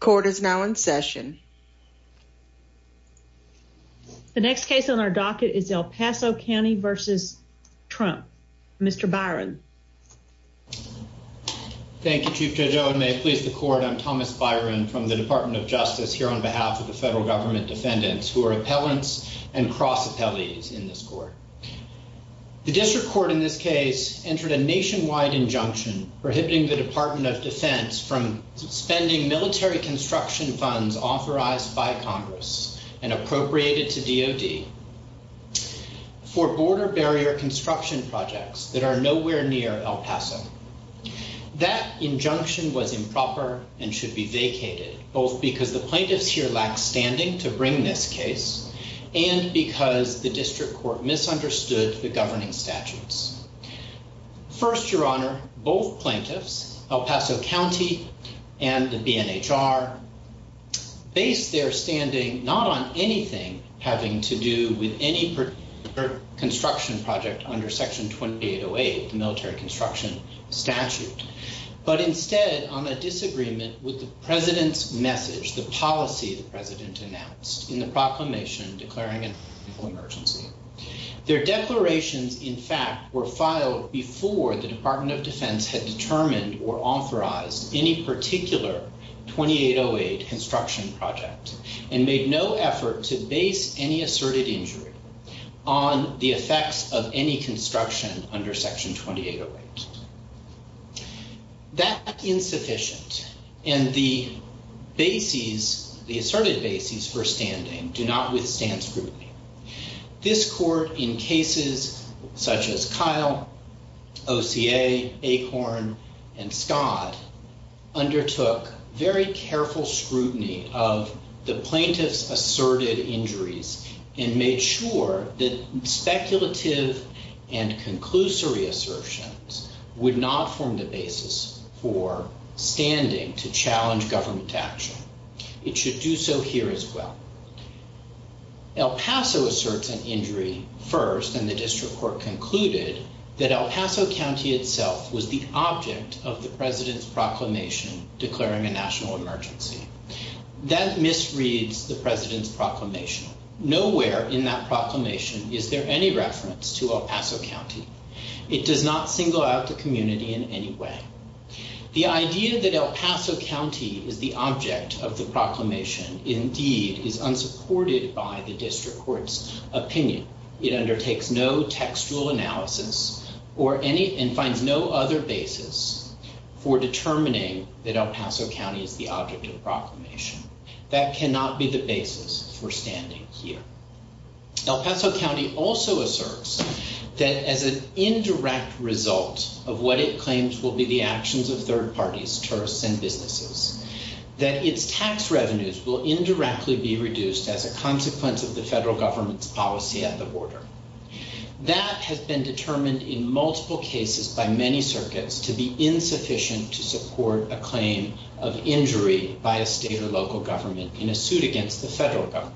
Court is now in session. The next case on our docket is El Paso County v. Trump. Mr. Byron. Thank you, Chief Judge Owen. May it please the court. I'm Thomas Byron from the Department of Justice here on behalf of the federal government defendants who are appellants and cross appellees in this court. The district court in this case entered a nationwide injunction prohibiting the construction funds authorized by Congress and appropriated to D.O.D. for border barrier construction projects that are nowhere near El Paso. That injunction was improper and should be vacated, both because the plaintiffs here lack standing to bring this case and because the district court misunderstood the governing statutes. First, Your Honor, both plaintiffs, El Paso County and the BNHR, based their standing not on anything having to do with any construction project under Section 2808, the military construction statute, but instead on a disagreement with the president's message, the policy the president announced in the proclamation declaring an emergency. Their declarations, in fact, were filed before the Department of Defense had any particular 2808 construction project and made no effort to base any asserted injury on the effects of any construction under Section 2808. That is insufficient, and the bases, the asserted bases for standing do not withstand scrutiny. This court, in cases such as Kyle, OCA, Acorn, and Scott, undertook very careful scrutiny of the plaintiffs' asserted injuries and made sure that speculative and conclusory assertions would not form the basis for standing to challenge government action. It should do so here as well. El Paso asserts an injury first, and the district court concluded that El Paso County itself was the object of the president's proclamation declaring a national emergency. That misreads the president's proclamation. Nowhere in that proclamation is there any reference to El Paso County. It does not single out the community in any way. The idea that El Paso County is the object of the proclamation indeed is unsupported by the district court's opinion. It undertakes no textual analysis and finds no other basis for determining that El Paso County is the object of the proclamation. That cannot be the basis for standing here. El Paso County also asserts that as an indirect result of what it claims will be the actions of third parties, tourists, and businesses, that its tax revenues will indirectly be reduced as a consequence of the federal government's policy at the border. That has been determined in multiple cases by many circuits to be insufficient to support a claim of injury by a state or local government in a suit against the federal government.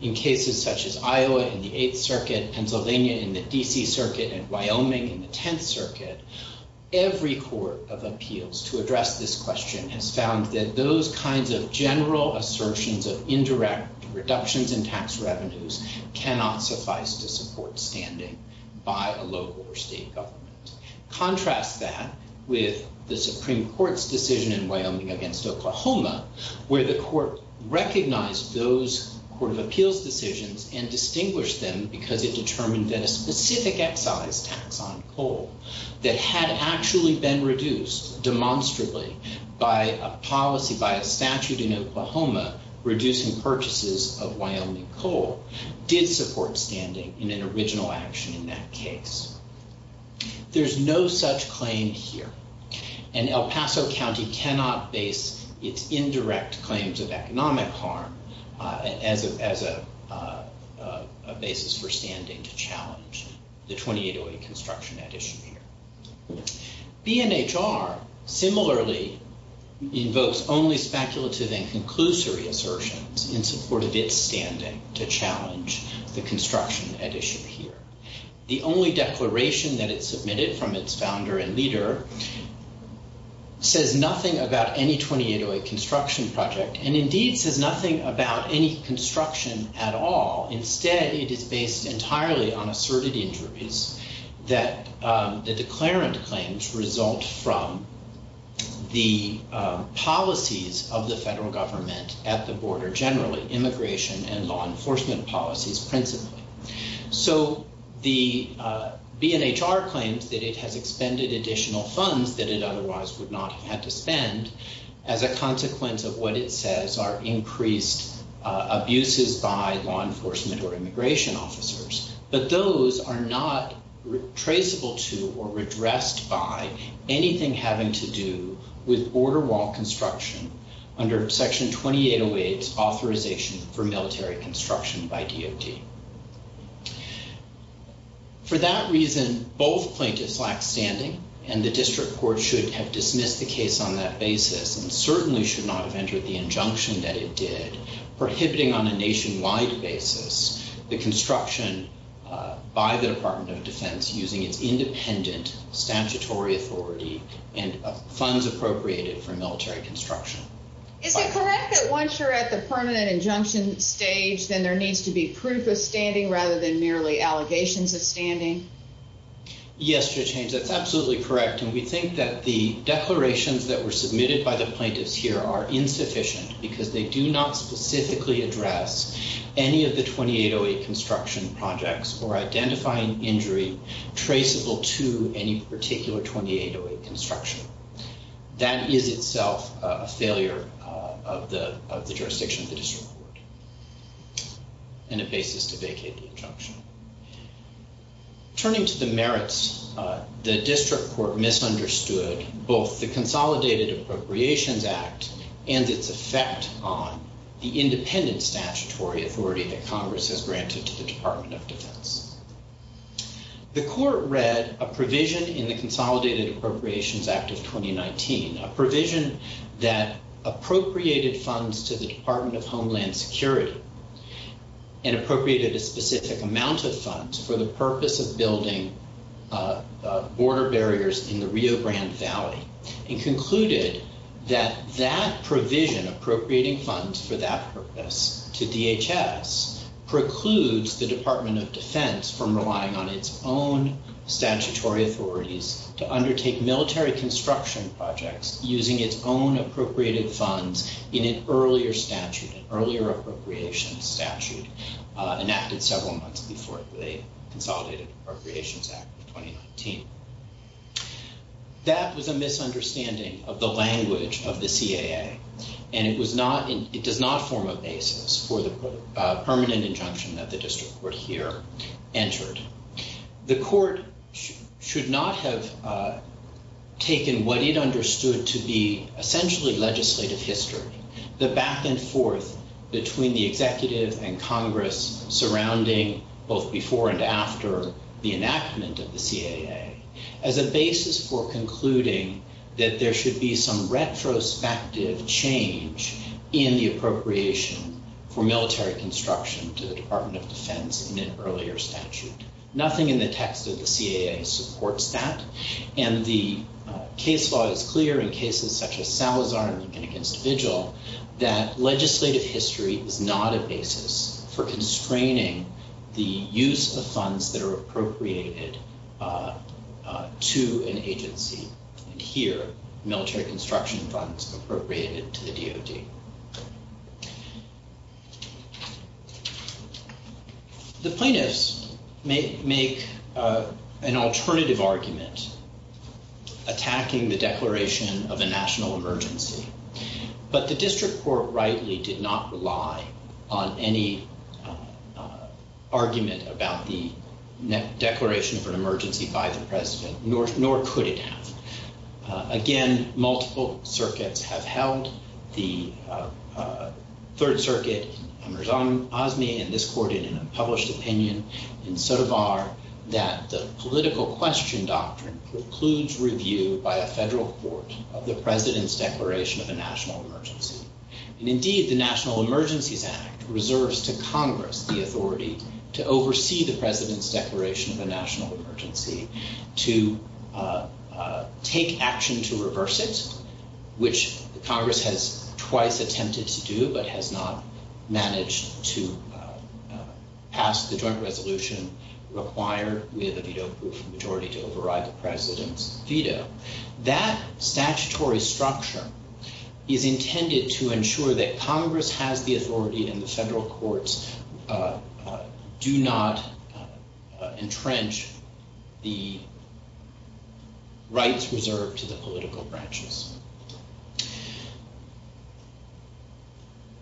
In cases such as Iowa in the Eighth Circuit, Pennsylvania in the DC Circuit, and Wyoming in the Tenth Circuit, every court of appeals to address this question has found that those kinds of general assertions of indirect reductions in tax revenues cannot suffice to support standing by a local or state government. Contrast that with the Supreme Court's decision in Wyoming against Oklahoma, where the court recognized those court of appeals decisions and distinguished them because it determined that a specific excise tax on coal that had actually been reduced demonstrably by a policy, by a statute in Oklahoma reducing purchases of Wyoming coal did support standing in an original action in that case. There's no such claim here. And El Paso County cannot base its indirect claims of economic harm as a basis for standing to challenge the 2808 construction at issue here. BNHR similarly invokes only speculative and conclusory assertions in support of its standing to challenge the construction at issue here. The only declaration that it submitted from its founder and leader says nothing about any 2808 construction project and indeed says nothing about any construction at all. Instead, it is based entirely on asserted injuries that the declarant claims result from the policies of the federal government at the border generally, immigration and law enforcement policies principally. So the BNHR claims that it has expended additional funds that it otherwise would not have had to spend as a consequence of what it says are increased abuses by federal law enforcement or immigration officers. But those are not traceable to or redressed by anything having to do with border wall construction under Section 2808's authorization for military construction by DOT. For that reason, both plaintiffs lack standing and the district court should have dismissed the case on that basis and certainly should not have entered the the construction by the Department of Defense using its independent statutory authority and funds appropriated for military construction. Is it correct that once you're at the permanent injunction stage, then there needs to be proof of standing rather than merely allegations of standing? Yes, Judge Haynes, that's absolutely correct. And we think that the declarations that were submitted by the plaintiffs here are construction projects or identifying injury traceable to any particular 2808 construction. That is itself a failure of the jurisdiction of the district court and a basis to vacate the injunction. Turning to the merits, the district court misunderstood both the Consolidated Appropriations Act and its effect on the independent statutory authority that Congress has granted to the Department of Defense. The court read a provision in the Consolidated Appropriations Act of 2019, a provision that appropriated funds to the Department of Homeland Security and appropriated a specific amount of funds for the purpose of building border barriers in the Rio Grande Valley and concluded that that provision, appropriating funds for that purpose to DHS, precludes the Department of Defense from relying on its own statutory authorities to undertake military construction projects using its own appropriated funds in an earlier statute, an earlier appropriations statute enacted several months before the Consolidated Appropriations Act of 2019. That was a misunderstanding of the language of the CAA and it was not, it does not form a basis for the permanent injunction that the district court here entered. The court should not have taken what it understood to be essentially legislative history, the back and forth between the executive and Congress surrounding both before and after the enactment of the CAA, as a basis for concluding that there should be some retrospective change in the appropriation for military construction to the Department of Defense in an earlier statute. Nothing in the text of the CAA supports that and the case law is clear in cases such as Salazar and Lincoln against Vigil that legislative history is not a The plaintiffs make an alternative argument attacking the declaration of a national emergency, but the district court rightly did not rely on any argument about the declaration of an emergency by the president, nor could it have. Again, multiple circuits have held, the Third Circuit, Amir Azmi, and this court in a published opinion in Sotomar that the political question doctrine precludes review by a federal court of the president's declaration of a national emergency. And indeed, the National Emergencies Act reserves to Congress the authority to oversee the president's declaration of a national emergency to take action to reverse it, which Congress has twice attempted to do, but has not managed to pass the joint resolution required with a veto majority to override the president's veto. That statutory structure is intended to ensure that Congress has the authority and the federal courts do not entrench the rights reserved to the political branches.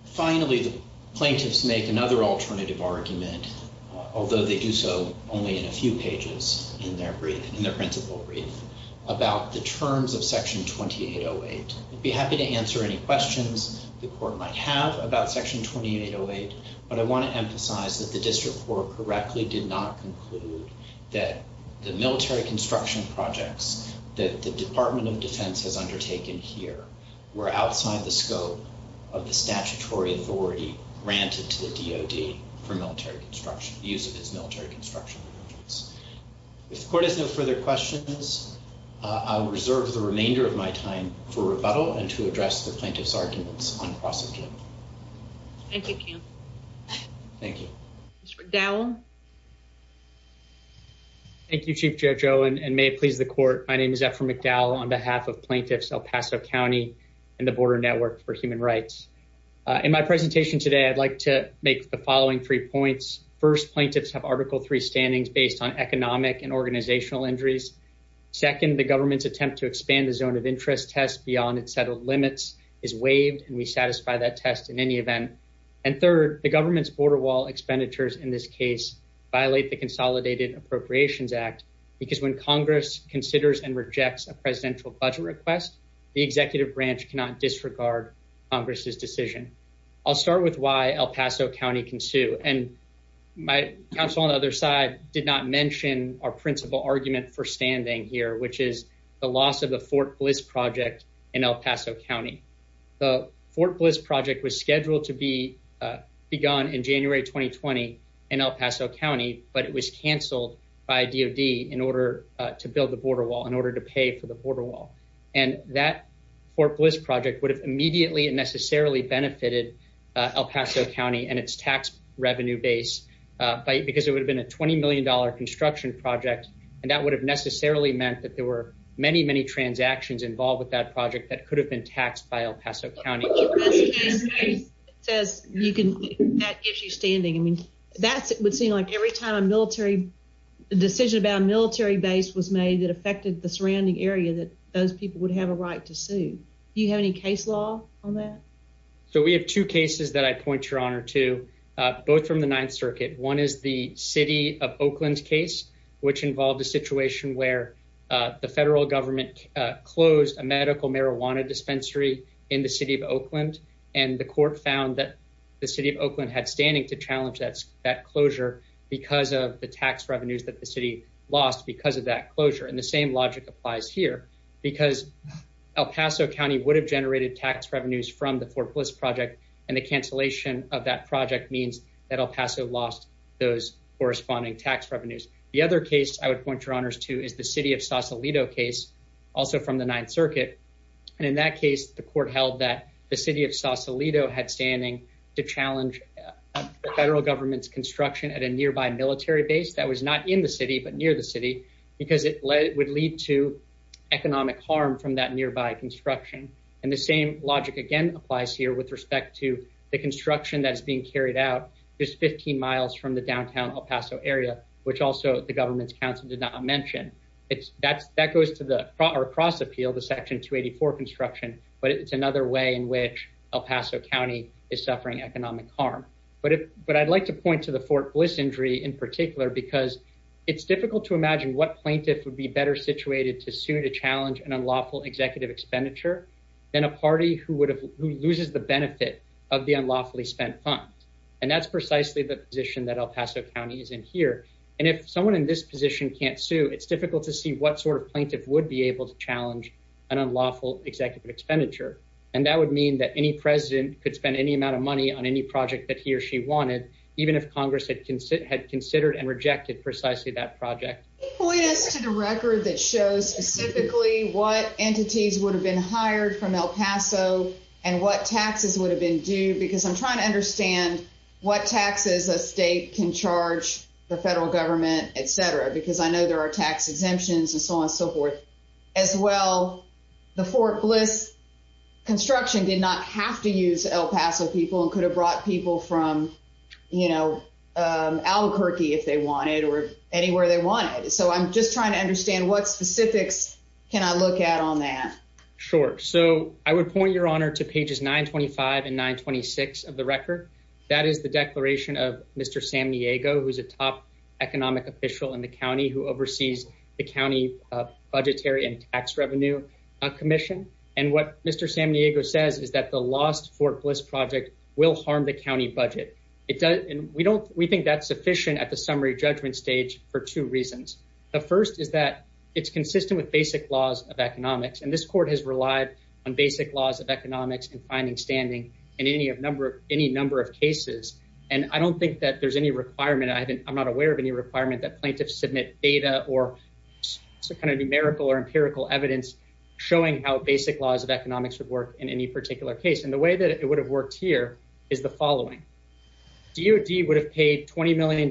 Finally, the plaintiffs make another alternative argument, although they do so only in a few pages in their principle brief, about the terms of Section 2808. I'd be happy to answer any questions the court might have about Section 2808, but I want to emphasize that the district court correctly did not conclude that the military construction projects that the Department of Defense has undertaken here were outside the scope of the statutory authority granted to DOD for military construction, the use of its military construction. If the court has no further questions, I'll reserve the remainder of my time for rebuttal and to address the plaintiff's arguments on cross-agenda. Thank you, Cam. Thank you. Mr. McDowell. Thank you, Chief JoJo, and may it please the court. My name is Ephraim McDowell on behalf of Plaintiffs El Paso County and the Border Network for Human Rights. In my presentation today, I'd like to make the following three points. First, plaintiffs have Article III standings based on economic and organizational injuries. Second, the government's attempt to expand the zone of interest test beyond its settled limits is waived, and we satisfy that test in any event. And third, the government's border wall expenditures in this case violate the Consolidated Appropriations Act because when Congress considers and rejects a I'll start with why El Paso County can sue. And my counsel on the other side did not mention our principal argument for standing here, which is the loss of the Fort Bliss project in El Paso County. The Fort Bliss project was scheduled to be begun in January 2020 in El Paso County, but it was canceled by DOD in order to build the border wall, in order to pay for the border wall. And that Fort Bliss project would have immediately and necessarily benefited El Paso County and its tax revenue base because it would have been a $20 million construction project, and that would have necessarily meant that there were many, many transactions involved with that project that could have been taxed by El Paso County. It says that gives you standing. I mean, that would seem like every time a military decision about a military base was made that affected the surrounding area that those people would have a right to sue. Do you have any case law on that? So we have two cases that I point your honor to, both from the Ninth Circuit. One is the city of Oakland case, which involved a situation where the federal government closed a medical marijuana dispensary in the city of Oakland, and the court found that the city of Oakland had standing to challenge that closure because of the tax revenues that the city lost because of that closure. And the same logic applies here, because El Paso County would have generated tax revenues from the Fort Bliss project, and the cancellation of that project means that El Paso lost those corresponding tax revenues. The other case I would point your honors to is the city of Sausalito case, also from the Ninth Circuit. And in that case, the court held that the city of Sausalito had standing to challenge the construction of a nearby military base that was not in the city, but near the city, because it would lead to economic harm from that nearby construction. And the same logic again applies here with respect to the construction that's being carried out just 15 miles from the downtown El Paso area, which also the government's counsel did not mention. That goes to the cross appeal, the Section 284 construction, but it's another way in which El Paso County is suffering economic harm. But I'd like to point to the Fort Bliss injury in particular because it's difficult to imagine what plaintiff would be better situated to sue to challenge an unlawful executive expenditure than a party who loses the benefit of the unlawfully spent funds. And that's precisely the position that El Paso County is in here. And if someone in this position can't sue, it's difficult to see what sort of plaintiff would be able to challenge an unlawful executive expenditure. And that would mean that any president could spend any amount of money on any project that he or she wanted, even if Congress had considered and rejected precisely that project. Can you point us to the record that shows specifically what entities would have been hired from El Paso and what taxes would have been due? Because I'm trying to understand what taxes a state can charge the federal government, et cetera, because I know there are tax exemptions and so on and so forth. As well, the Fort Bliss construction did not have to use El Paso people and could have brought people from, you know, Albuquerque if they wanted or anywhere they wanted. So I'm just trying to understand what specifics can I look at on that? Sure. So I would point your honor to pages 925 and 926 of the record. That is the declaration of Mr. Sam Diego, who's a top economic official in the county who oversees the county budgetary and tax revenue commission. And what Mr. Sam Diego says is that the lost Fort Bliss project will harm the county budget. It does. And we don't we think that's sufficient at the summary judgment stage for two reasons. The first is that it's consistent with basic laws of economics, and this court has relied on basic laws of economics and finding standing in any of number of any number of cases. And I don't think that there's any requirement. I haven't. I'm not aware of any requirement that plaintiffs submit data or kind of numerical or empirical evidence showing how basic laws of economics would work in any particular case. And the way that it would have worked here is the following. DOD would have paid $20 million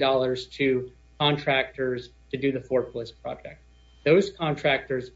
to contractors to do the Fort Bliss project. Those contractors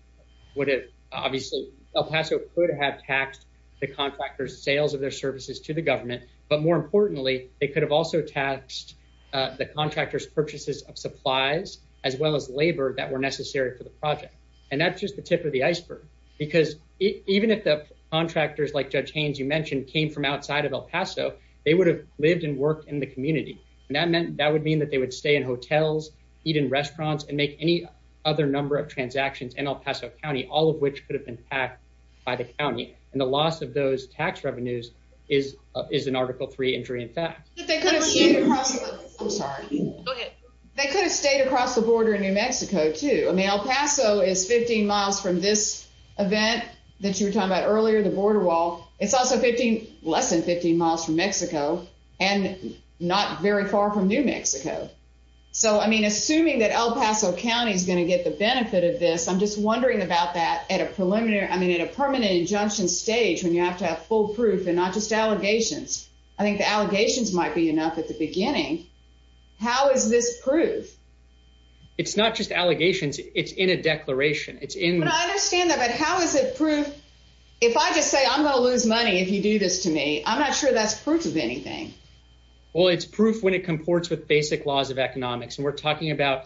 would have obviously El Paso could have taxed the contractors sales of their services to the government. But more importantly, they could have also taxed the contractors purchases of supplies as well as labor that were necessary for the project. That's just the tip of the iceberg, because even if the contractors like Judge Haynes you mentioned came from outside of El Paso, they would have lived and worked in the community. And that meant that would mean that they would stay in hotels, eat in restaurants and make any other number of transactions in El Paso County, all of which could have been packed by the county. And the loss of those tax revenues is is an Article three injury. In fact, they could have stayed across. I'm sorry. They could have stayed across the border in New Mexico, too. El Paso is 15 miles from this event that you were talking about earlier, the border wall. It's also 15 less than 15 miles from Mexico and not very far from New Mexico. So, I mean, assuming that El Paso County is going to get the benefit of this, I'm just wondering about that at a preliminary I mean, at a permanent injunction stage when you have to have full proof and not just allegations. I think the allegations might be enough at the beginning. How is this proof? It's not just allegations. It's in a declaration. It's in. I understand that. But how is it proof? If I just say I'm going to lose money if you do this to me, I'm not sure that's proof of anything. Well, it's proof when it comports with basic laws of economics. And we're talking about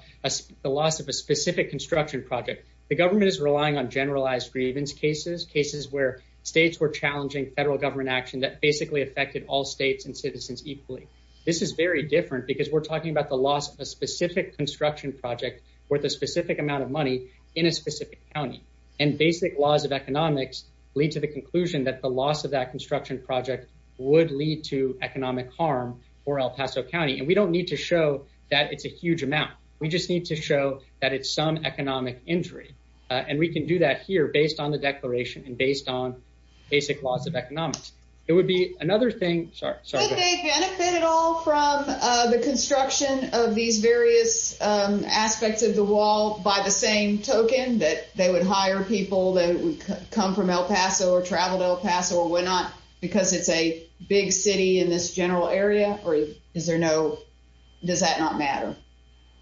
the loss of a specific construction project. The government is relying on generalized grievance cases, cases where states were challenging federal government action that basically affected all states and citizens equally. This is very different because we're talking about the loss of a specific construction project worth a specific amount of money in a specific county. And basic laws of economics lead to the conclusion that the loss of that construction project would lead to economic harm for El Paso County. And we don't need to show that it's a huge amount. We just need to show that it's some economic injury. And we can do that here based on the declaration and based on basic laws of economics. It would be another thing. Would they benefit at all from the construction of these various aspects of the wall by the same token, that they would hire people that would come from El Paso or travel to El Paso or whatnot because it's a big city in this general area? Or does that not matter?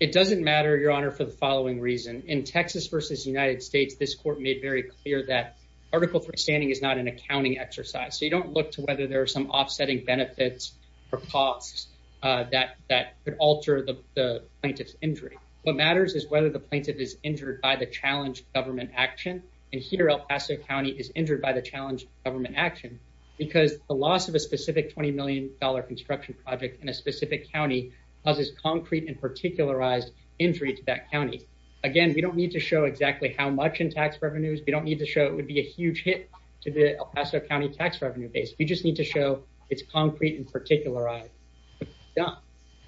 It doesn't matter, Your Honor, for the following reason. In Texas v. United States, this court made very clear that Article III standing is not an accounting exercise. So you don't look to whether there are some offsetting benefits or costs that could alter the plaintiff's injury. What matters is whether the plaintiff is injured by the challenged government action. And here, El Paso County is injured by the challenged government action because the loss of a specific $20 million construction project in a specific county causes concrete and particularized injury to that county. Again, we don't need to show exactly how much in tax revenues. We don't need to show it would be a huge hit to the El Paso County tax revenue base. We just need to show it's concrete and particularized.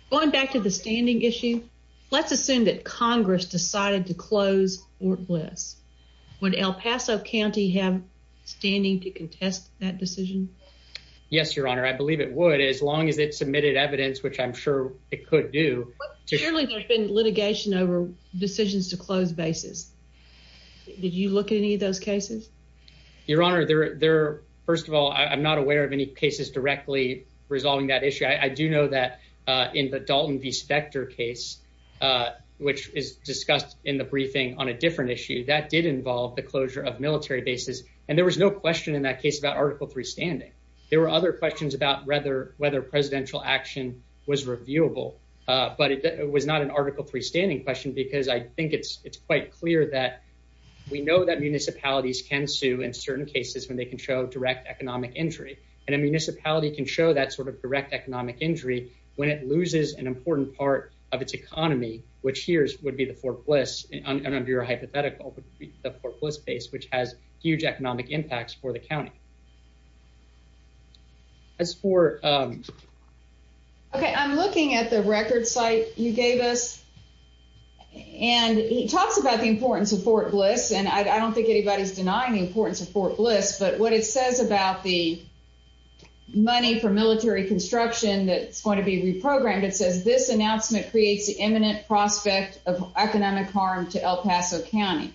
Going back to the standing issue, let's assume that Congress decided to close Fort Bliss. Would El Paso County have standing to contest that decision? Yes, Your Honor. I believe it would as long as it submitted evidence, which I'm sure it could do. Surely there's been litigation over decisions to close bases. Did you look at any of those cases? Your Honor, first of all, I'm not aware of any cases directly resolving that issue. I do know that in the Dalton v. Specter case, which is discussed in the briefing on a different issue, that did involve the closure of military bases. And there was no question in that case about Article III standing. There were other questions about whether presidential action was reviewable. But it was not an Article III standing question because I think it's quite clear that we know that municipalities can sue in certain cases when they can show direct economic injury. And a municipality can show that sort of direct economic injury when it loses an important part of its economy, which here would be the Fort Bliss, under your hypothetical, would be the Fort Bliss base, which has huge economic impacts for the county. As for... Okay, I'm looking at the record site you gave us. And he talks about the importance of Fort Bliss, and I don't think anybody's denying the importance of Fort Bliss. But what it says about the money for military construction that's going to be reprogrammed, it says, this announcement creates the imminent prospect of economic harm to El Paso County.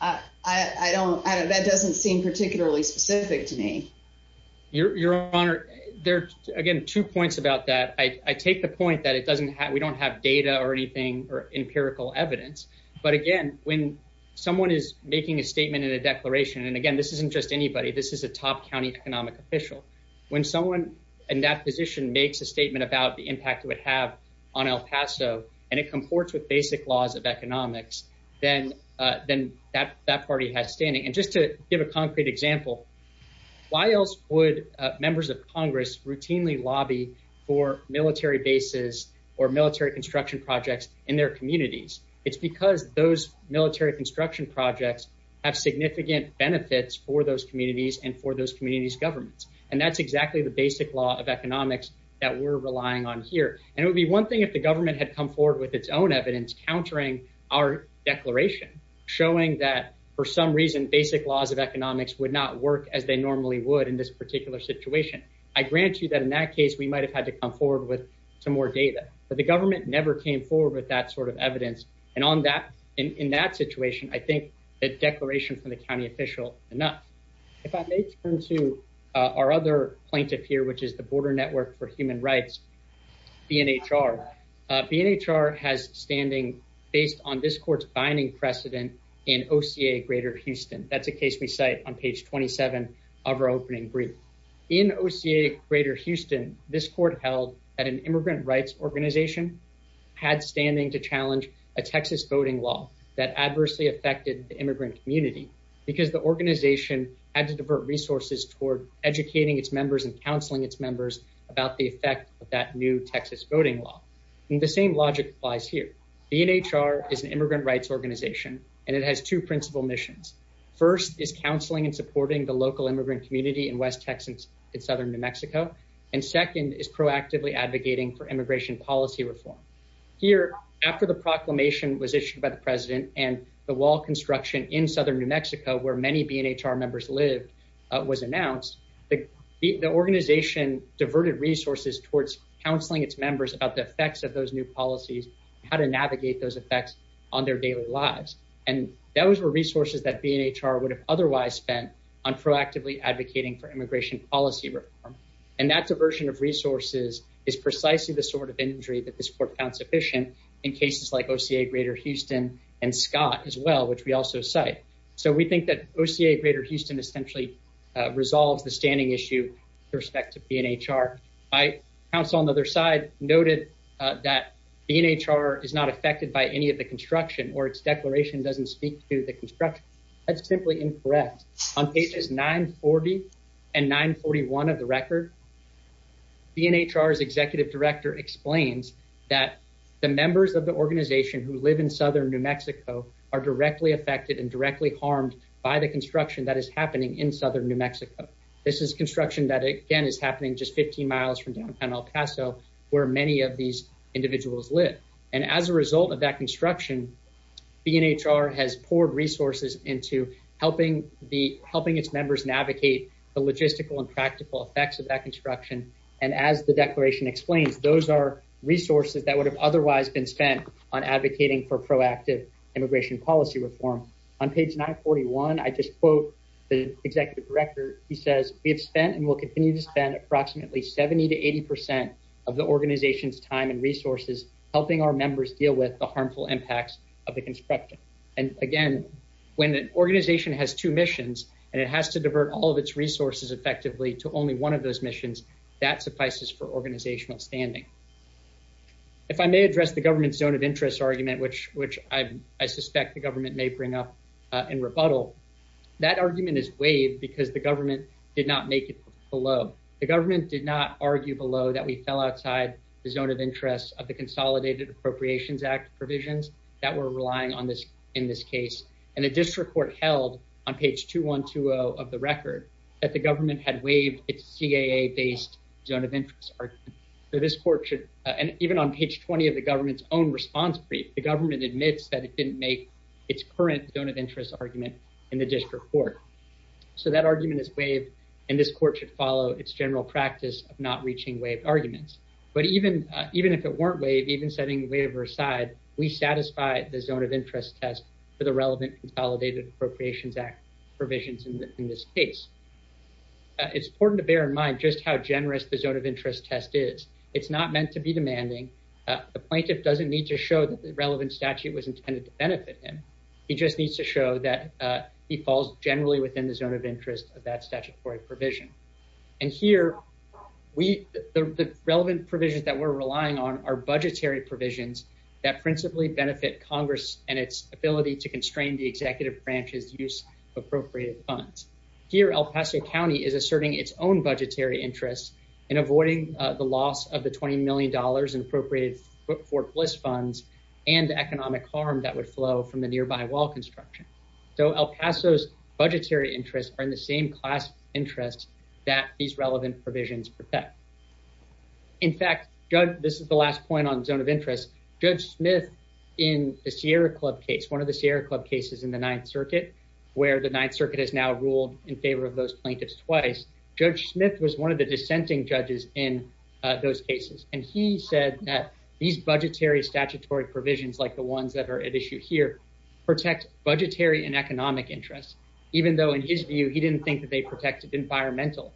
I don't... That doesn't seem particularly specific to me. Your Honor, there are, again, two points about that. I take the point that we don't have data or anything or empirical evidence. But again, when someone is making a statement in a declaration, and again, this isn't just anybody, this is a top county economic official. When someone in that position makes a statement about the impact it would have on El Paso, and it comports with basic laws of economics, then that party has standing. And just to give a concrete example, why else would members of Congress routinely lobby for military bases or military construction projects in their communities? It's because those military construction projects have significant benefits for those communities and for those communities' governments. And that's exactly the basic law of economics that we're relying on here. And it would be one thing if the government had come forward with its own laws of economics would not work as they normally would in this particular situation. I grant you that in that case, we might have had to come forward with some more data. But the government never came forward with that sort of evidence. And in that situation, I think a declaration from the county official, enough. If I may turn to our other plaintiff here, which is the Border Network for Human Rights, BNHR. BNHR has standing based on this court's binding precedent in OCA Greater Houston. That's a case we cite on page 27 of our opening brief. In OCA Greater Houston, this court held that an immigrant rights organization had standing to challenge a Texas voting law that adversely affected the immigrant community because the organization had to divert resources toward educating its members and counseling its members about the effect of that new Texas voting law. And the same logic applies here. BNHR is an immigrant rights organization and it has two principal missions. First is counseling and supporting the local immigrant community in West Texas in southern New Mexico. And second is proactively advocating for immigration policy reform. Here, after the proclamation was issued by the president and the wall construction in southern New Mexico where many BNHR members lived was announced, the organization diverted resources towards counseling its members about the effects of those new policies, how to navigate those effects on their daily lives. And those were resources that BNHR would have otherwise spent on proactively advocating for immigration policy reform. And that diversion of resources is precisely the sort of injury that this court found sufficient in cases like OCA Greater Houston and Scott as well, which we also cite. So we think that OCA Greater Houston essentially resolves the standing issue with respect to BNHR. My counsel on the other side noted that BNHR is not affected by any of the construction or its declaration doesn't speak to the construction. That's simply incorrect. On pages 940 and 941 of the record, BNHR's executive director explains that the members of the organization who live in southern New Mexico are directly affected and directly harmed by the construction that is happening in southern New Mexico. This is construction that again is happening just 15 miles from downtown El Paso where many of these individuals live. And as a result of that construction, BNHR has poured resources into helping its members navigate the logistical and practical effects of that construction. And as the declaration explains, those are resources that would have otherwise been spent on advocating for proactive immigration policy reform. On page 941, I just quote the executive director. He says, we have spent and will continue to spend approximately 70 to 80% of the organization's time and resources helping our members deal with the harmful impacts of the construction. And again, when an organization has two missions and it has to divert all of its resources effectively to only one of those missions, that suffices for organizational standing. If I may address the government's zone of interest argument, which I suspect the government may bring up in rebuttal, that argument is waived because the government did not make it below. The government did not argue below that we fell outside the zone of interest of the Consolidated Appropriations Act provisions that were relying on this in this case. And the district court held on page 2120 of the record that the government had waived its CAA-based zone of interest argument. So this court should, and even on page 20 of the government's own response brief, the government admits that it didn't make its current zone of interest argument in the district court. So that argument is waived, and this court should follow its general practice of not reaching waived arguments. But even if it weren't waived, even setting the waiver aside, we satisfy the zone of interest test for the relevant Consolidated Appropriations Act provisions in this case. It's important to bear in mind just how generous the zone of interest test is. It's not meant to be demanding. The plaintiff doesn't need to show that the relevant statute was intended to benefit him. He just needs to show that he falls generally within the zone of interest of that statutory provision. And here, the relevant provisions that we're relying on are budgetary provisions that principally benefit Congress and its ability to constrain the executive branch's use of appropriated funds. Here, El Paso County is asserting its own budgetary interests in avoiding the loss of the $20 million in appropriated for bliss funds and the economic harm that would flow from the nearby wall construction. So El Paso's budgetary interests are in the same class interest that these relevant provisions protect. In fact, this is the last point on zone of interest. Judge Smith in the Sierra Club case, one of the Sierra Club cases in the Ninth Circuit, where the Ninth Circuit has now ruled in favor of those plaintiffs twice, Judge Smith was one of the dissenting judges in those cases, and he said that these budgetary statutory provisions, like the ones that are at issue here, protect budgetary and economic interests, even though in his view, he didn't think that they protected environmental.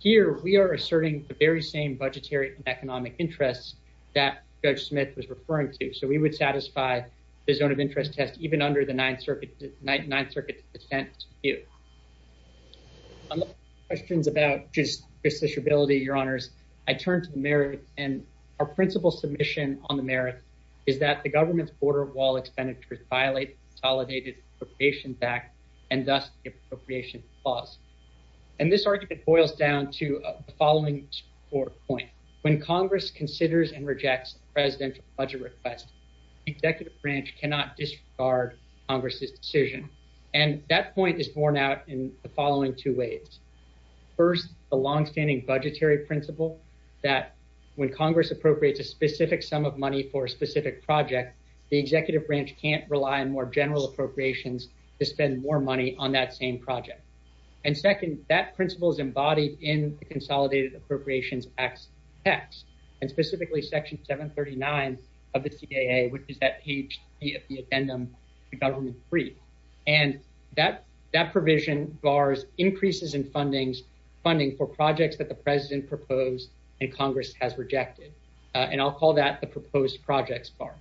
Here, we are asserting the very same budgetary and economic interests that Judge Smith was referring to. So we would satisfy the zone of interest test even under the Ninth Circuit's dissent view. On the questions about just justiciability, Your Honors, I turn to the Mayor and our principal submission on the merits is that the government's border wall expenditures violate the consolidated appropriations act and thus the appropriations clause. And this argument boils down to the following four points. When Congress considers and rejects the presidential budget request, the executive branch cannot disregard Congress's decision. And that point is borne out in the following two ways. First, the longstanding budgetary principle that when Congress appropriates a specific sum of money for a specific project, the executive branch can't rely on more general appropriations to spend more money on that same project. And second, that principle is embodied in the consolidated appropriations acts text and specifically Section 739 of the CIA, which is that page of the funding for projects that the president proposed and Congress has rejected. And I'll call that the proposed projects bar.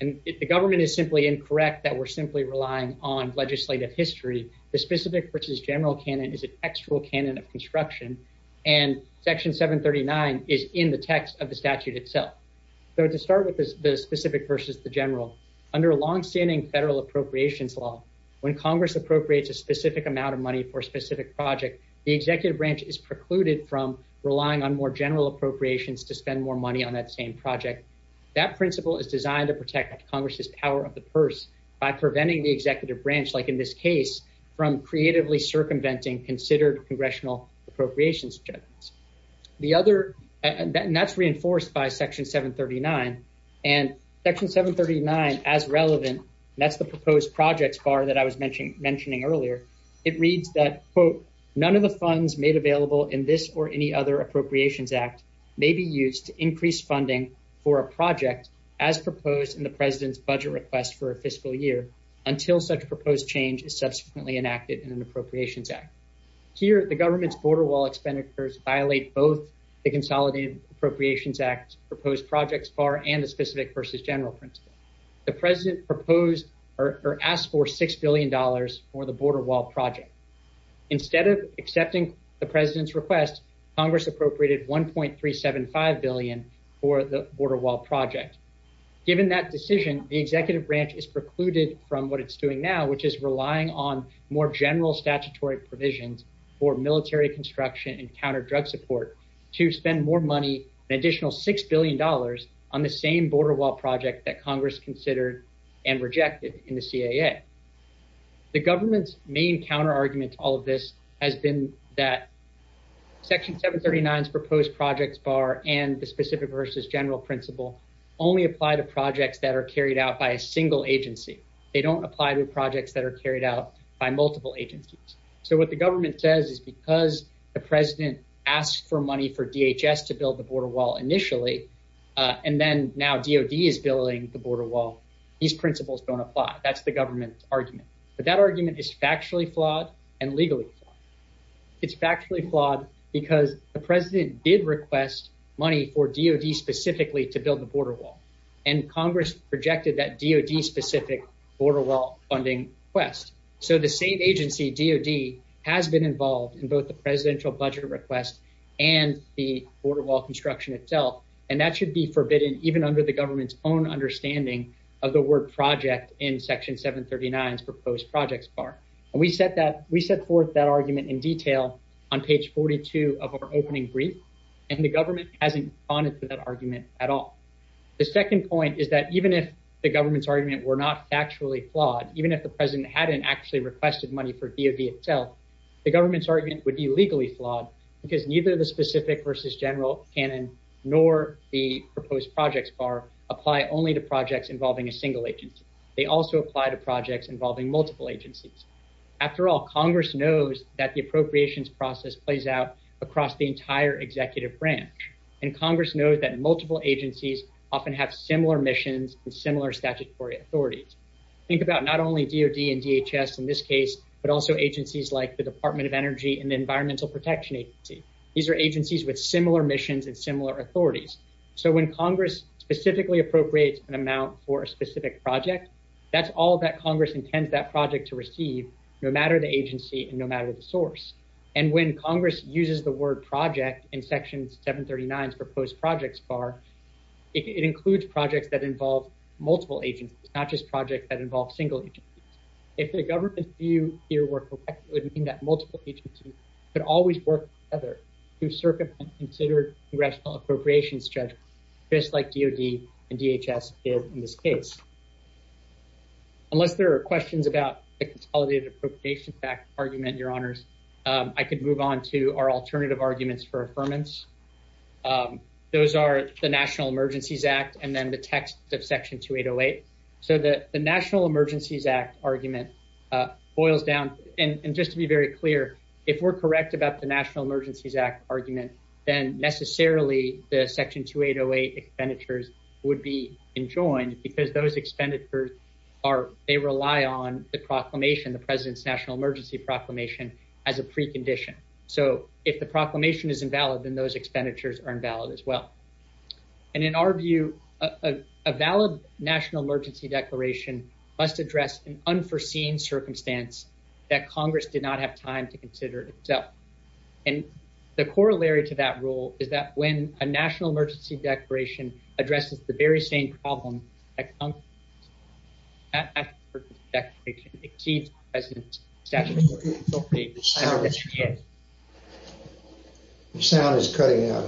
And if the government is simply incorrect that we're simply relying on legislative history, the specific versus general canon is an actual canon of construction, and Section 739 is in the text of the statute itself. So to start with the specific versus the general under a longstanding federal appropriations law, when Congress appropriates a specific amount of money for a specific project, the executive branch is precluded from relying on more general appropriations to spend more money on that same project. That principle is designed to protect Congress's power of the purse by preventing the executive branch, like in this case, from creatively circumventing considered congressional appropriations. The other and that's reinforced by Section 739 and Section 739 as relevant. That's the proposed projects bar that I was mentioning earlier. It reads that, quote, none of the funds made available in this or any other appropriations act may be used to increase funding for a project as proposed in the president's budget request for a fiscal year until such proposed change is subsequently enacted in an appropriations act. Here, the government's border wall expenditures violate both the consolidated appropriations act proposed projects bar and the specific versus general principle. The president proposed or asked for $6 billion for the border wall project. Instead of accepting the president's request, Congress appropriated 1.375 billion for the border wall project. Given that decision, the executive branch is precluded from what it's doing now, which is relying on more general statutory provisions for military construction and counter drug support to spend more money, an additional $6 billion on the same border wall project that Congress considered and rejected in the CAA. The government's main counter argument to all of this has been that Section 739's proposed projects bar and the specific versus general principle only apply to projects that are carried out by a single agency. They don't apply to projects that are carried out by multiple agencies. So what the government says is because the president asked for money for DHS to build the border wall initially, and then now DOD is building the border wall, these principles don't apply. That's the government's argument. But that argument is factually flawed and legally flawed. It's factually flawed because the president did request money for DOD specifically to build the border wall. And Congress rejected that DOD specific border wall funding request. So the same agency, DOD, has been involved in both the presidential budget request and the border wall construction itself. And that should be forbidden even under the government's own understanding of the word project in Section 739's proposed projects bar. We set forth that argument in detail on page 42 of our opening brief, and the government hasn't responded to that argument at all. The second point is that even if the government's argument were not factually flawed, even if the president hadn't actually requested money for DOD itself, the government's argument would be legally flawed because neither the specific versus general canon nor the proposed projects bar apply only to projects involving a single agency. They also apply to projects involving multiple agencies. After all, Congress knows that the appropriations process plays out across the entire executive branch. And Congress knows that multiple agencies often have similar missions and similar statutory authorities. Think about not only DOD and DHS in this case, but also agencies like the Department of Energy and the Environmental Protection Agency. These are agencies with similar missions and similar authorities. So when Congress specifically appropriates an amount for a specific project, that's all that Congress intends that project to receive, no matter the agency and no matter the source. And when Congress uses the word project in Section 739's proposed projects bar, it includes projects that involve multiple agencies, not just projects that involve single agencies. If the government view here were correct, it would mean that multiple agencies could always work together to circumvent considered congressional appropriations judge, just like DOD and DHS did in this case. Unless there are questions about the consolidated appropriation fact argument, Your Honors, I could move on to our alternative arguments for affirmance. Those are the National Emergencies Act and then the text of Section 2808. So the National Emergencies Act argument boils down, and just to be very clear, if we're correct about the National Emergencies Act argument, then necessarily the Section 2808 expenditures would be enjoined because those expenditures are, they rely on the proclamation, the President's National Emergency Proclamation as a precondition. So if the proclamation is invalid, then those expenditures are invalid as well. And in our view, a valid National Emergency Declaration must address an unforeseen circumstance that Congress did not have time to consider itself. And the corollary to that rule is that when a National Emergency Declaration addresses the very same problem at Congress, that National Emergency Declaration exceeds the President's statutory authority. The sound is cutting out.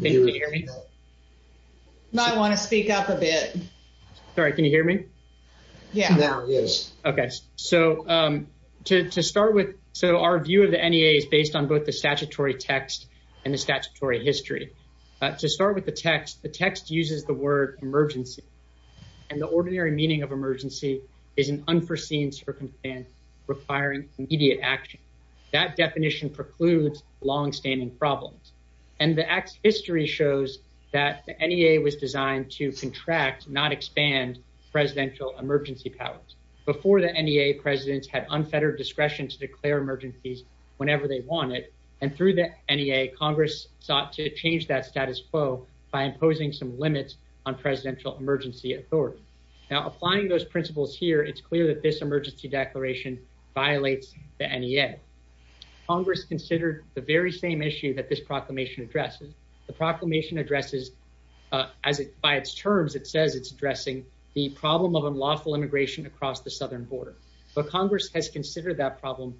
Can you hear me? I want to speak up a bit. Sorry, can you hear me? Yeah. Okay. So to start with, so our view of the NEA is based on both the statutory text and the statutory history. To start with the text, the text uses the word emergency and the ordinary meaning of immediate action. That definition precludes longstanding problems. And the act's history shows that the NEA was designed to contract, not expand, presidential emergency powers. Before the NEA, presidents had unfettered discretion to declare emergencies whenever they wanted. And through the NEA, Congress sought to change that status quo by imposing some limits on presidential emergency authority. Now, applying those principles here, it's clear that this emergency declaration violates the NEA. Congress considered the very same issue that this proclamation addresses. The proclamation addresses, by its terms, it says it's addressing the problem of unlawful immigration across the southern border. But Congress has considered that problem,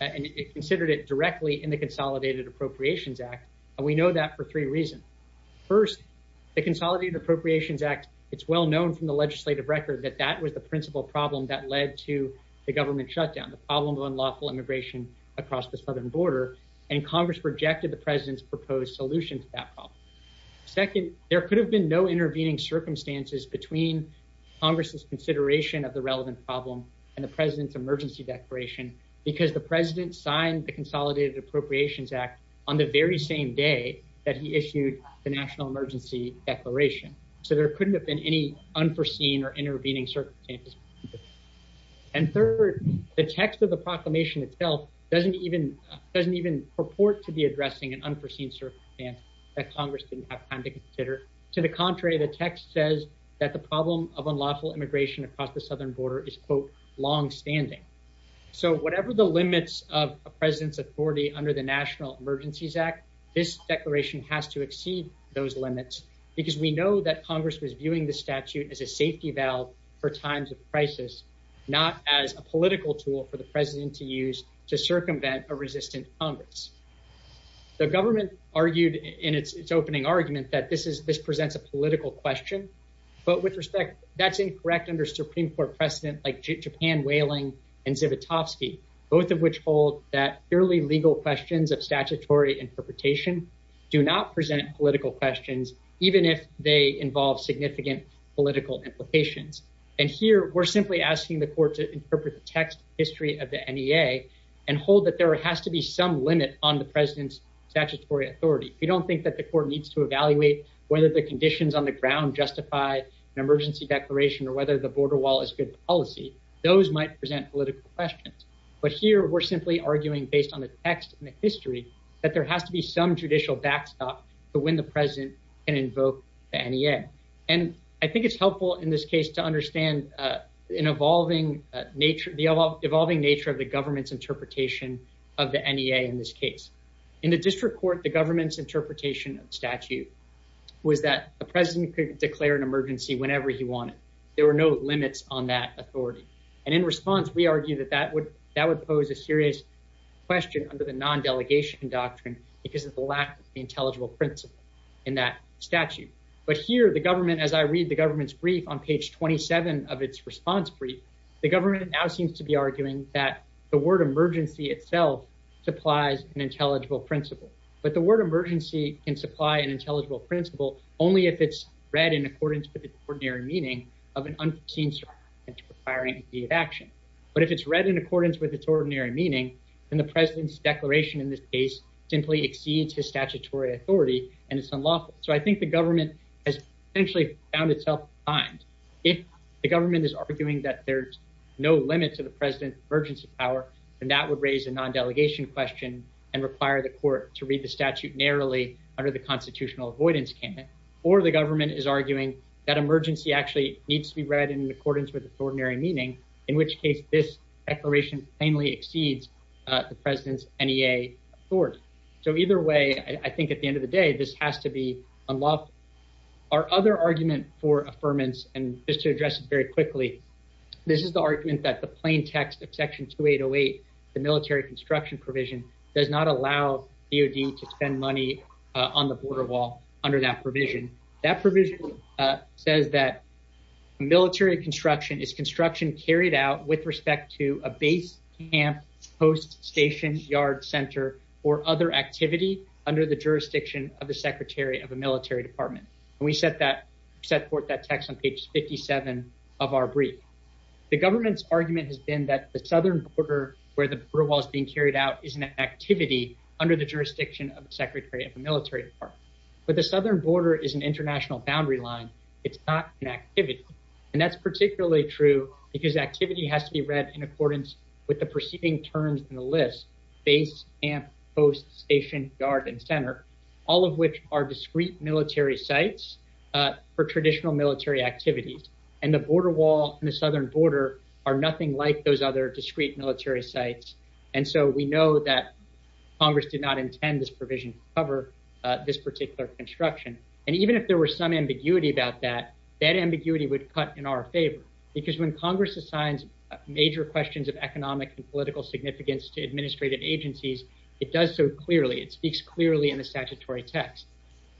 and it considered it directly in the Consolidated Appropriations Act, and we know that for three reasons. First, the Consolidated Appropriations Act, it's well known from the legislative record that that was the principal problem that led to the government shutdown, the problem of unlawful immigration across the southern border. And Congress rejected the president's proposed solution to that problem. Second, there could have been no intervening circumstances between Congress's consideration of the relevant problem and the president's emergency declaration because the president signed the Consolidated Appropriations Act on the very same day that he issued the national emergency declaration. So there couldn't have been any unforeseen or intervening circumstances. And third, the text of the proclamation itself doesn't even purport to be addressing an unforeseen circumstance that Congress didn't have time to consider. To the contrary, the text says that the problem of unlawful immigration across the southern border is, quote, longstanding. So whatever the limits of a president's authority under the National Emergencies Act, this declaration has to exceed those limits because we know that Congress was viewing the statute as a safety valve for times of crisis, not as a political tool for the president to use to circumvent a resistant Congress. The government argued in its opening argument that this presents a political question, but with respect, that's incorrect under Supreme Court precedent like Japan Wailing and Zivotofsky, both of which hold that purely legal questions of statutory interpretation do not present political questions, even if they involve significant political implications. And here we're simply asking the court to interpret the text history of the NEA and hold that there has to be some limit on the president's statutory authority. We don't think that the court needs to evaluate whether the conditions on the ground justify an emergency declaration or whether the border wall is good policy. Those might present political questions. But here we're simply arguing based on the text and the history that there has to be some judicial backstop to when the president can invoke the NEA. And I think it's helpful in this case to understand an evolving nature, the evolving nature of the government's interpretation of the NEA in this case. In the district court, the government's interpretation of statute was that the president could declare an emergency whenever he wanted. There were no limits on that authority. And in response, we argue that that would pose a serious question under the non-delegation doctrine because of the lack of the intelligible principle in that statute. But here the government, as I read the government's brief on page 27 of its response brief, the government now seems to be arguing that the word emergency itself supplies an intelligible principle. But the word emergency can supply an intelligible principle only if it's read in accordance with the ordinary meaning of an unforeseen circumstance requiring immediate action. But if it's read in accordance with its ordinary meaning, then the president's declaration in this case simply exceeds his statutory authority and it's unlawful. So I think the government has essentially found itself behind. If the government is arguing that there's no limit to the president's emergency power, then that would raise a non-delegation question and require the court to read the statute narrowly under the constitutional avoidance canon. Or the government is arguing that emergency actually needs to be read in accordance with its ordinary meaning, in which case this declaration plainly exceeds the president's NEA authority. So either way, I think at the end of the day, this has to be unlawful. Our other argument for affirmance, and just to address it very quickly, this is the argument that the plain text of Section 2808, the military construction provision, does not allow DOD to spend money on the border wall under that provision. That provision says that military construction is construction carried out with respect to a base, camp, post, station, yard, center, or other activity under the jurisdiction of the secretary of a military department. And we set forth that text on page 57 of our brief. The government's argument has been that the southern border, where the border wall is being carried out, is an activity under the jurisdiction of the secretary of the military department. But the southern border is an international boundary line. It's not an activity. And that's particularly true because activity has to be read in accordance with the preceding terms in the list, base, camp, post, station, yard, and center, all of which are discrete military sites for traditional military activities. And the border wall and the southern border are nothing like those other discrete military sites. And so we know that Congress did not intend this provision to cover this particular construction. And even if there were some ambiguity about that, that ambiguity would cut in our favor because when Congress assigns major questions of economic and political significance to administrative agencies, it does so clearly. It speaks clearly in the statutory text.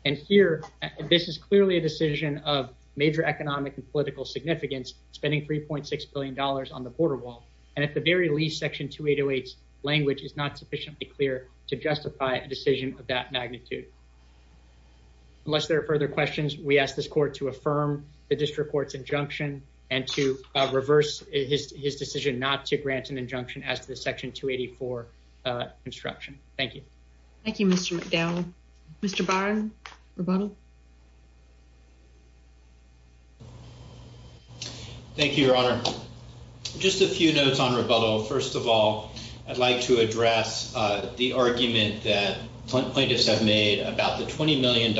And here, this is clearly a decision of major economic and political significance, spending $3.6 billion on the border wall. And at the very least, Section 2808's language is not sufficiently clear to justify a decision of that magnitude. Unless there are further questions, we ask this court to affirm the district court's injunction and to reverse his decision not to grant an injunction as to the Section 284 construction. Thank you. Thank you, Mr. McDowell. Mr. Barron, rebuttal. Thank you, Your Honor. Just a few notes on rebuttal. First of all, I'd like to address the argument that plaintiffs have made about the $20 million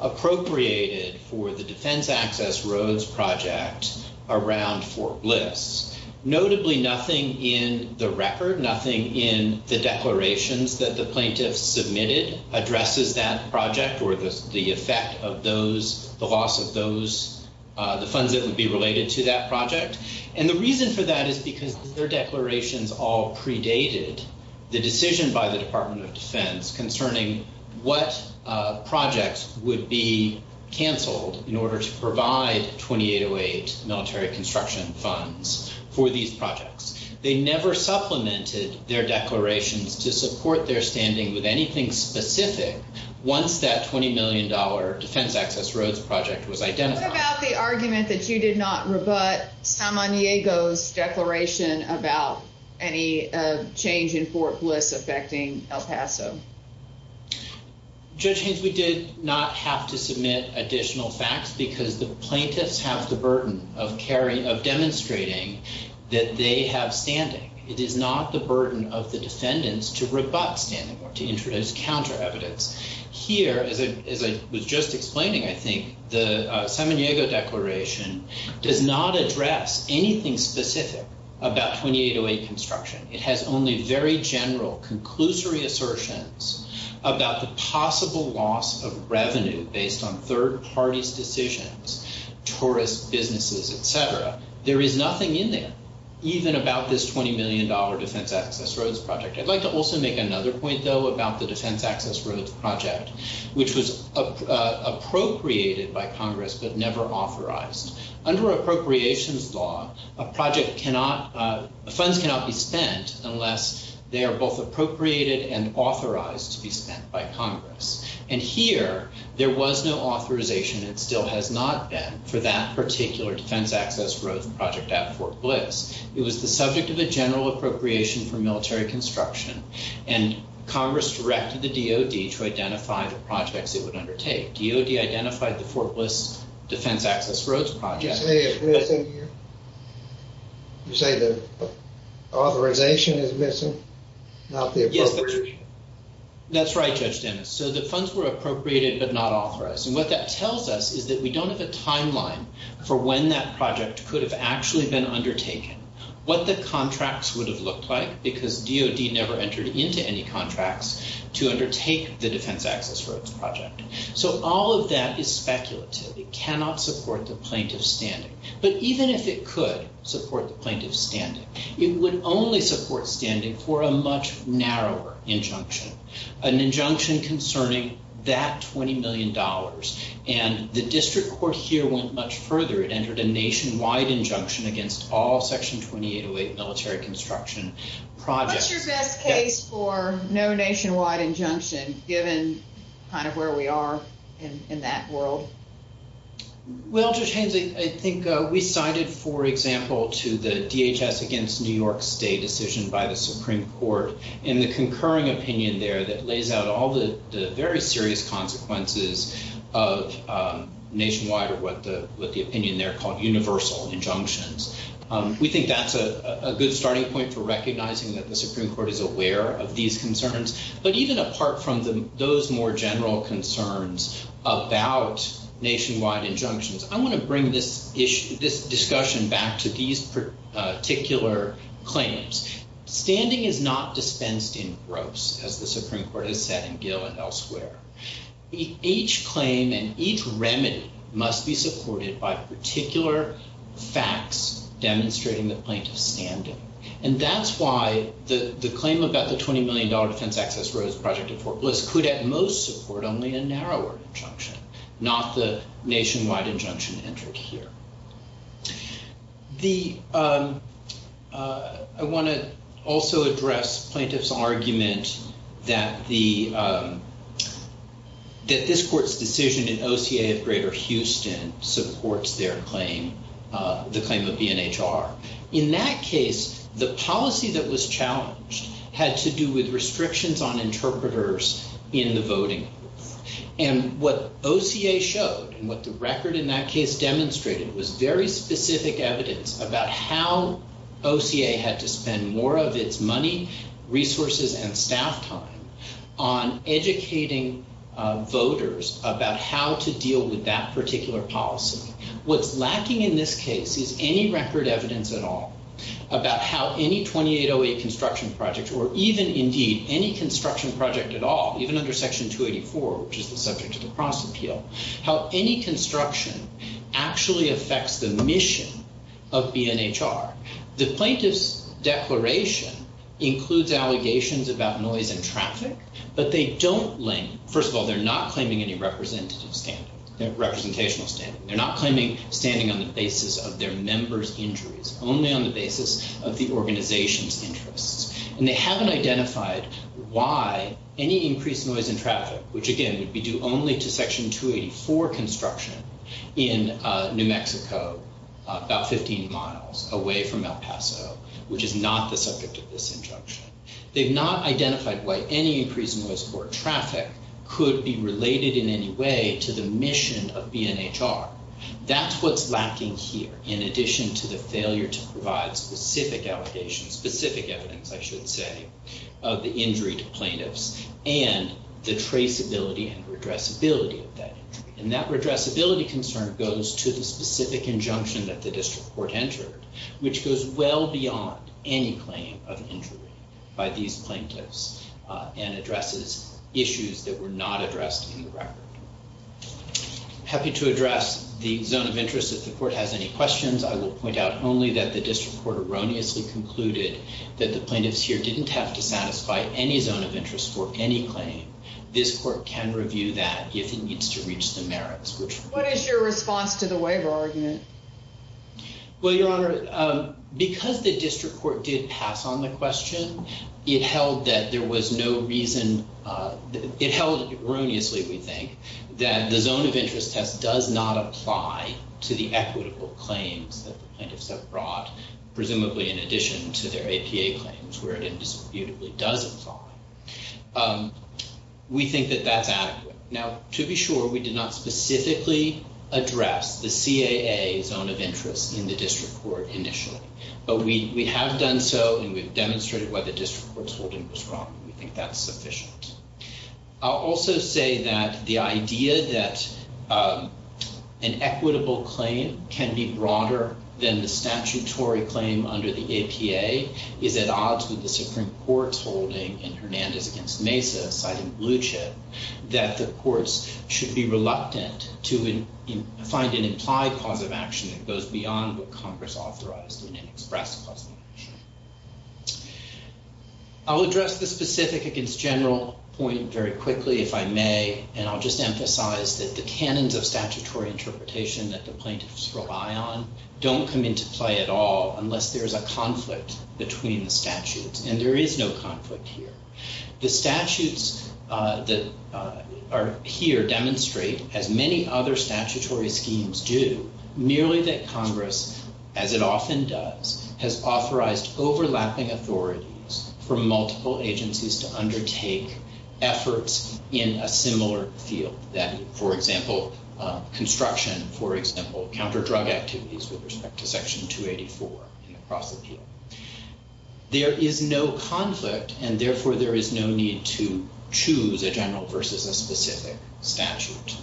appropriated for the Defense Access Roads Project around Fort Bliss. Notably, nothing in the record, nothing in the declarations that the plaintiffs submitted addresses that project or the effect of those, the loss of those, the funds that would be related to that project. And the reason for that is because their declarations all predated the decision by the Department of Defense concerning what projects would be canceled in order to provide 2808 military construction funds for these projects. They never supplemented their declarations to support their standing with anything specific once that $20 million Defense Access Roads Project was identified. What about the argument that you did not rebut Samaniego's declaration about any change in Fort Bliss affecting El Paso? Judge Haynes, we did not have to submit additional facts because the plaintiffs have the burden of demonstrating that they have standing. It is not the burden of the defendants to rebut standing or to introduce counter evidence. Here, as I was just explaining, I think the Samaniego declaration does not address anything specific about 2808 construction. It has only very general, conclusory assertions about the possible loss of revenue based on There is nothing in there, even about this $20 million Defense Access Roads Project. I'd like to also make another point, though, about the Defense Access Roads Project, which was appropriated by Congress but never authorized. Under appropriations law, a project cannot, funds cannot be spent unless they are both appropriated and authorized to be spent by Congress. Here, there was no authorization, and still has not been, for that particular Defense Access Roads Project at Fort Bliss. It was the subject of a general appropriation for military construction, and Congress directed the DOD to identify the projects it would undertake. DOD identified the Fort Bliss Defense Access Roads Project. You say it's missing here? You say the authorization is missing, not the appropriation? That's right, Judge Dennis. The funds were appropriated but not authorized. What that tells us is that we don't have a timeline for when that project could have actually been undertaken, what the contracts would have looked like, because DOD never entered into any contracts to undertake the Defense Access Roads Project. All of that is speculative. It cannot support the plaintiff's standing. But even if it could support the plaintiff's standing, it would only support standing for a much narrower injunction. An injunction concerning that $20 million, and the district court here went much further. It entered a nationwide injunction against all Section 2808 military construction projects. What's your best case for no nationwide injunction, given kind of where we are in that world? Well, Judge Haynes, I think we cited, for example, to the DHS against New York State decision by the Supreme Court in the concurring opinion there that lays out all the very serious consequences of nationwide, or what the opinion there called universal injunctions. We think that's a good starting point for recognizing that the Supreme Court is aware of these concerns. But even apart from those more general concerns about nationwide injunctions, I want to bring this discussion back to these particular claims. Standing is not dispensed in gropes, as the Supreme Court has said in Gill and elsewhere. Each claim and each remedy must be supported by particular facts demonstrating the plaintiff's standing. And that's why the claim about the $20 million Defense Access Roads Project at Fort Bliss could at most support only a narrower injunction, not the nationwide injunction entered here. I want to also address plaintiff's argument that this court's decision in OCA of Greater Houston supports their claim, the claim of BNHR. In that case, the policy that was challenged had to do with restrictions on interpreters in the voting. And what OCA showed and what the record in that case demonstrated was very specific evidence about how OCA had to spend more of its money, resources, and staff time on educating voters about how to deal with that particular policy. What's lacking in this case is any record evidence at all about how any 2808 construction project or even, indeed, any construction project at all, even under Section 284, which is the subject of the cross-appeal, how any construction actually affects the mission of BNHR. The plaintiff's declaration includes allegations about noise and traffic, but they don't link. First of all, they're not claiming any representative standing, representational standing. They're not claiming standing on the basis of their members' injuries, only on the basis of the organization's interests. And they haven't identified why any increased noise and traffic, which, again, would be due only to Section 284 construction in New Mexico, about 15 miles away from El Paso, which is not the subject of this injunction. They've not identified why any increased noise or traffic could be related in any way to the mission of BNHR. That's what's lacking here, in addition to the failure to provide specific allegations, specific evidence, I should say, of the injury to plaintiffs, and the traceability and redressability of that injury. And that redressability concern goes to the specific injunction that the district court entered, which goes well beyond any claim of injury by these plaintiffs and addresses issues that were not addressed in the record. Happy to address the zone of interest if the court has any questions. I will point out only that the district court erroneously concluded that the plaintiffs here didn't have to satisfy any zone of interest for any claim. This court can review that if it needs to reach the merits, which— What is your response to the waiver argument? Well, Your Honor, because the district court did pass on the question, it held that there zone of interest test does not apply to the equitable claims that the plaintiffs have brought, presumably in addition to their APA claims, where it indisputably does apply. We think that that's adequate. Now, to be sure, we did not specifically address the CAA zone of interest in the district court initially. But we have done so, and we've demonstrated why the district court's holding was wrong. We think that's sufficient. I'll also say that the idea that an equitable claim can be broader than the statutory claim under the APA is at odds with the Supreme Court's holding in Hernandez v. Mesa, citing Bluchet, that the courts should be reluctant to find an implied cause of action that goes beyond what Congress authorized in an express cause of action. I'll address the specific against general point very quickly, if I may, and I'll just emphasize that the canons of statutory interpretation that the plaintiffs rely on don't come into play at all unless there's a conflict between the statutes, and there is no conflict here. The statutes that are here demonstrate, as many other statutory schemes do, merely that there are at best overlapping authorities for multiple agencies to undertake efforts in a similar field, that, for example, construction, for example, counter-drug activities with respect to Section 284 in the Cross-Appeal. There is no conflict, and therefore, there is no need to choose a general versus a specific statute.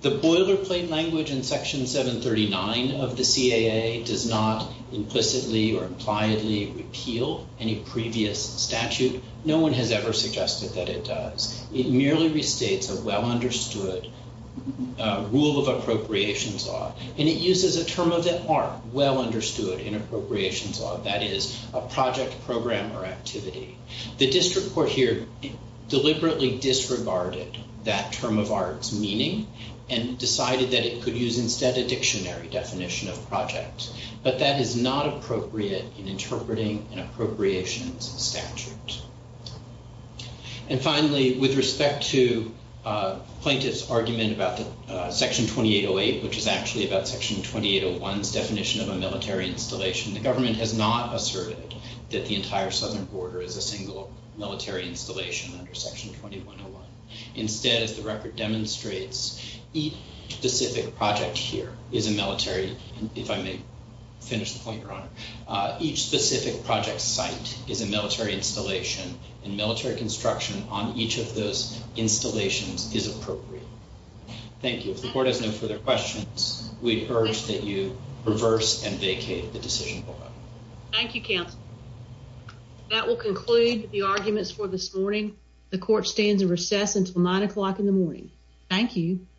The boilerplate language in Section 739 of the CAA does not implicitly or impliedly repeal any previous statute. No one has ever suggested that it does. It merely restates a well-understood rule of appropriations law, and it uses a term of the art, well-understood in appropriations law, that is, a project program or activity. The district court here deliberately disregarded that term of art's meaning and decided that it could use, instead, a dictionary definition of project, but that is not appropriate in interpreting an appropriations statute. And finally, with respect to plaintiffs' argument about Section 2808, which is actually about Section 2801's definition of a military installation, the government has not asserted that the entire southern border is a single military installation under Section 2101. Instead, as the record demonstrates, each specific project here is a military, if I may finish the point, Your Honor, each specific project site is a military installation, and military construction on each of those installations is appropriate. Thank you. If the Court has no further questions, we urge that you reverse and vacate the decision board. Thank you, Counsel. That will conclude the arguments for this morning. The Court stands in recess until 9 o'clock in the morning. Thank you.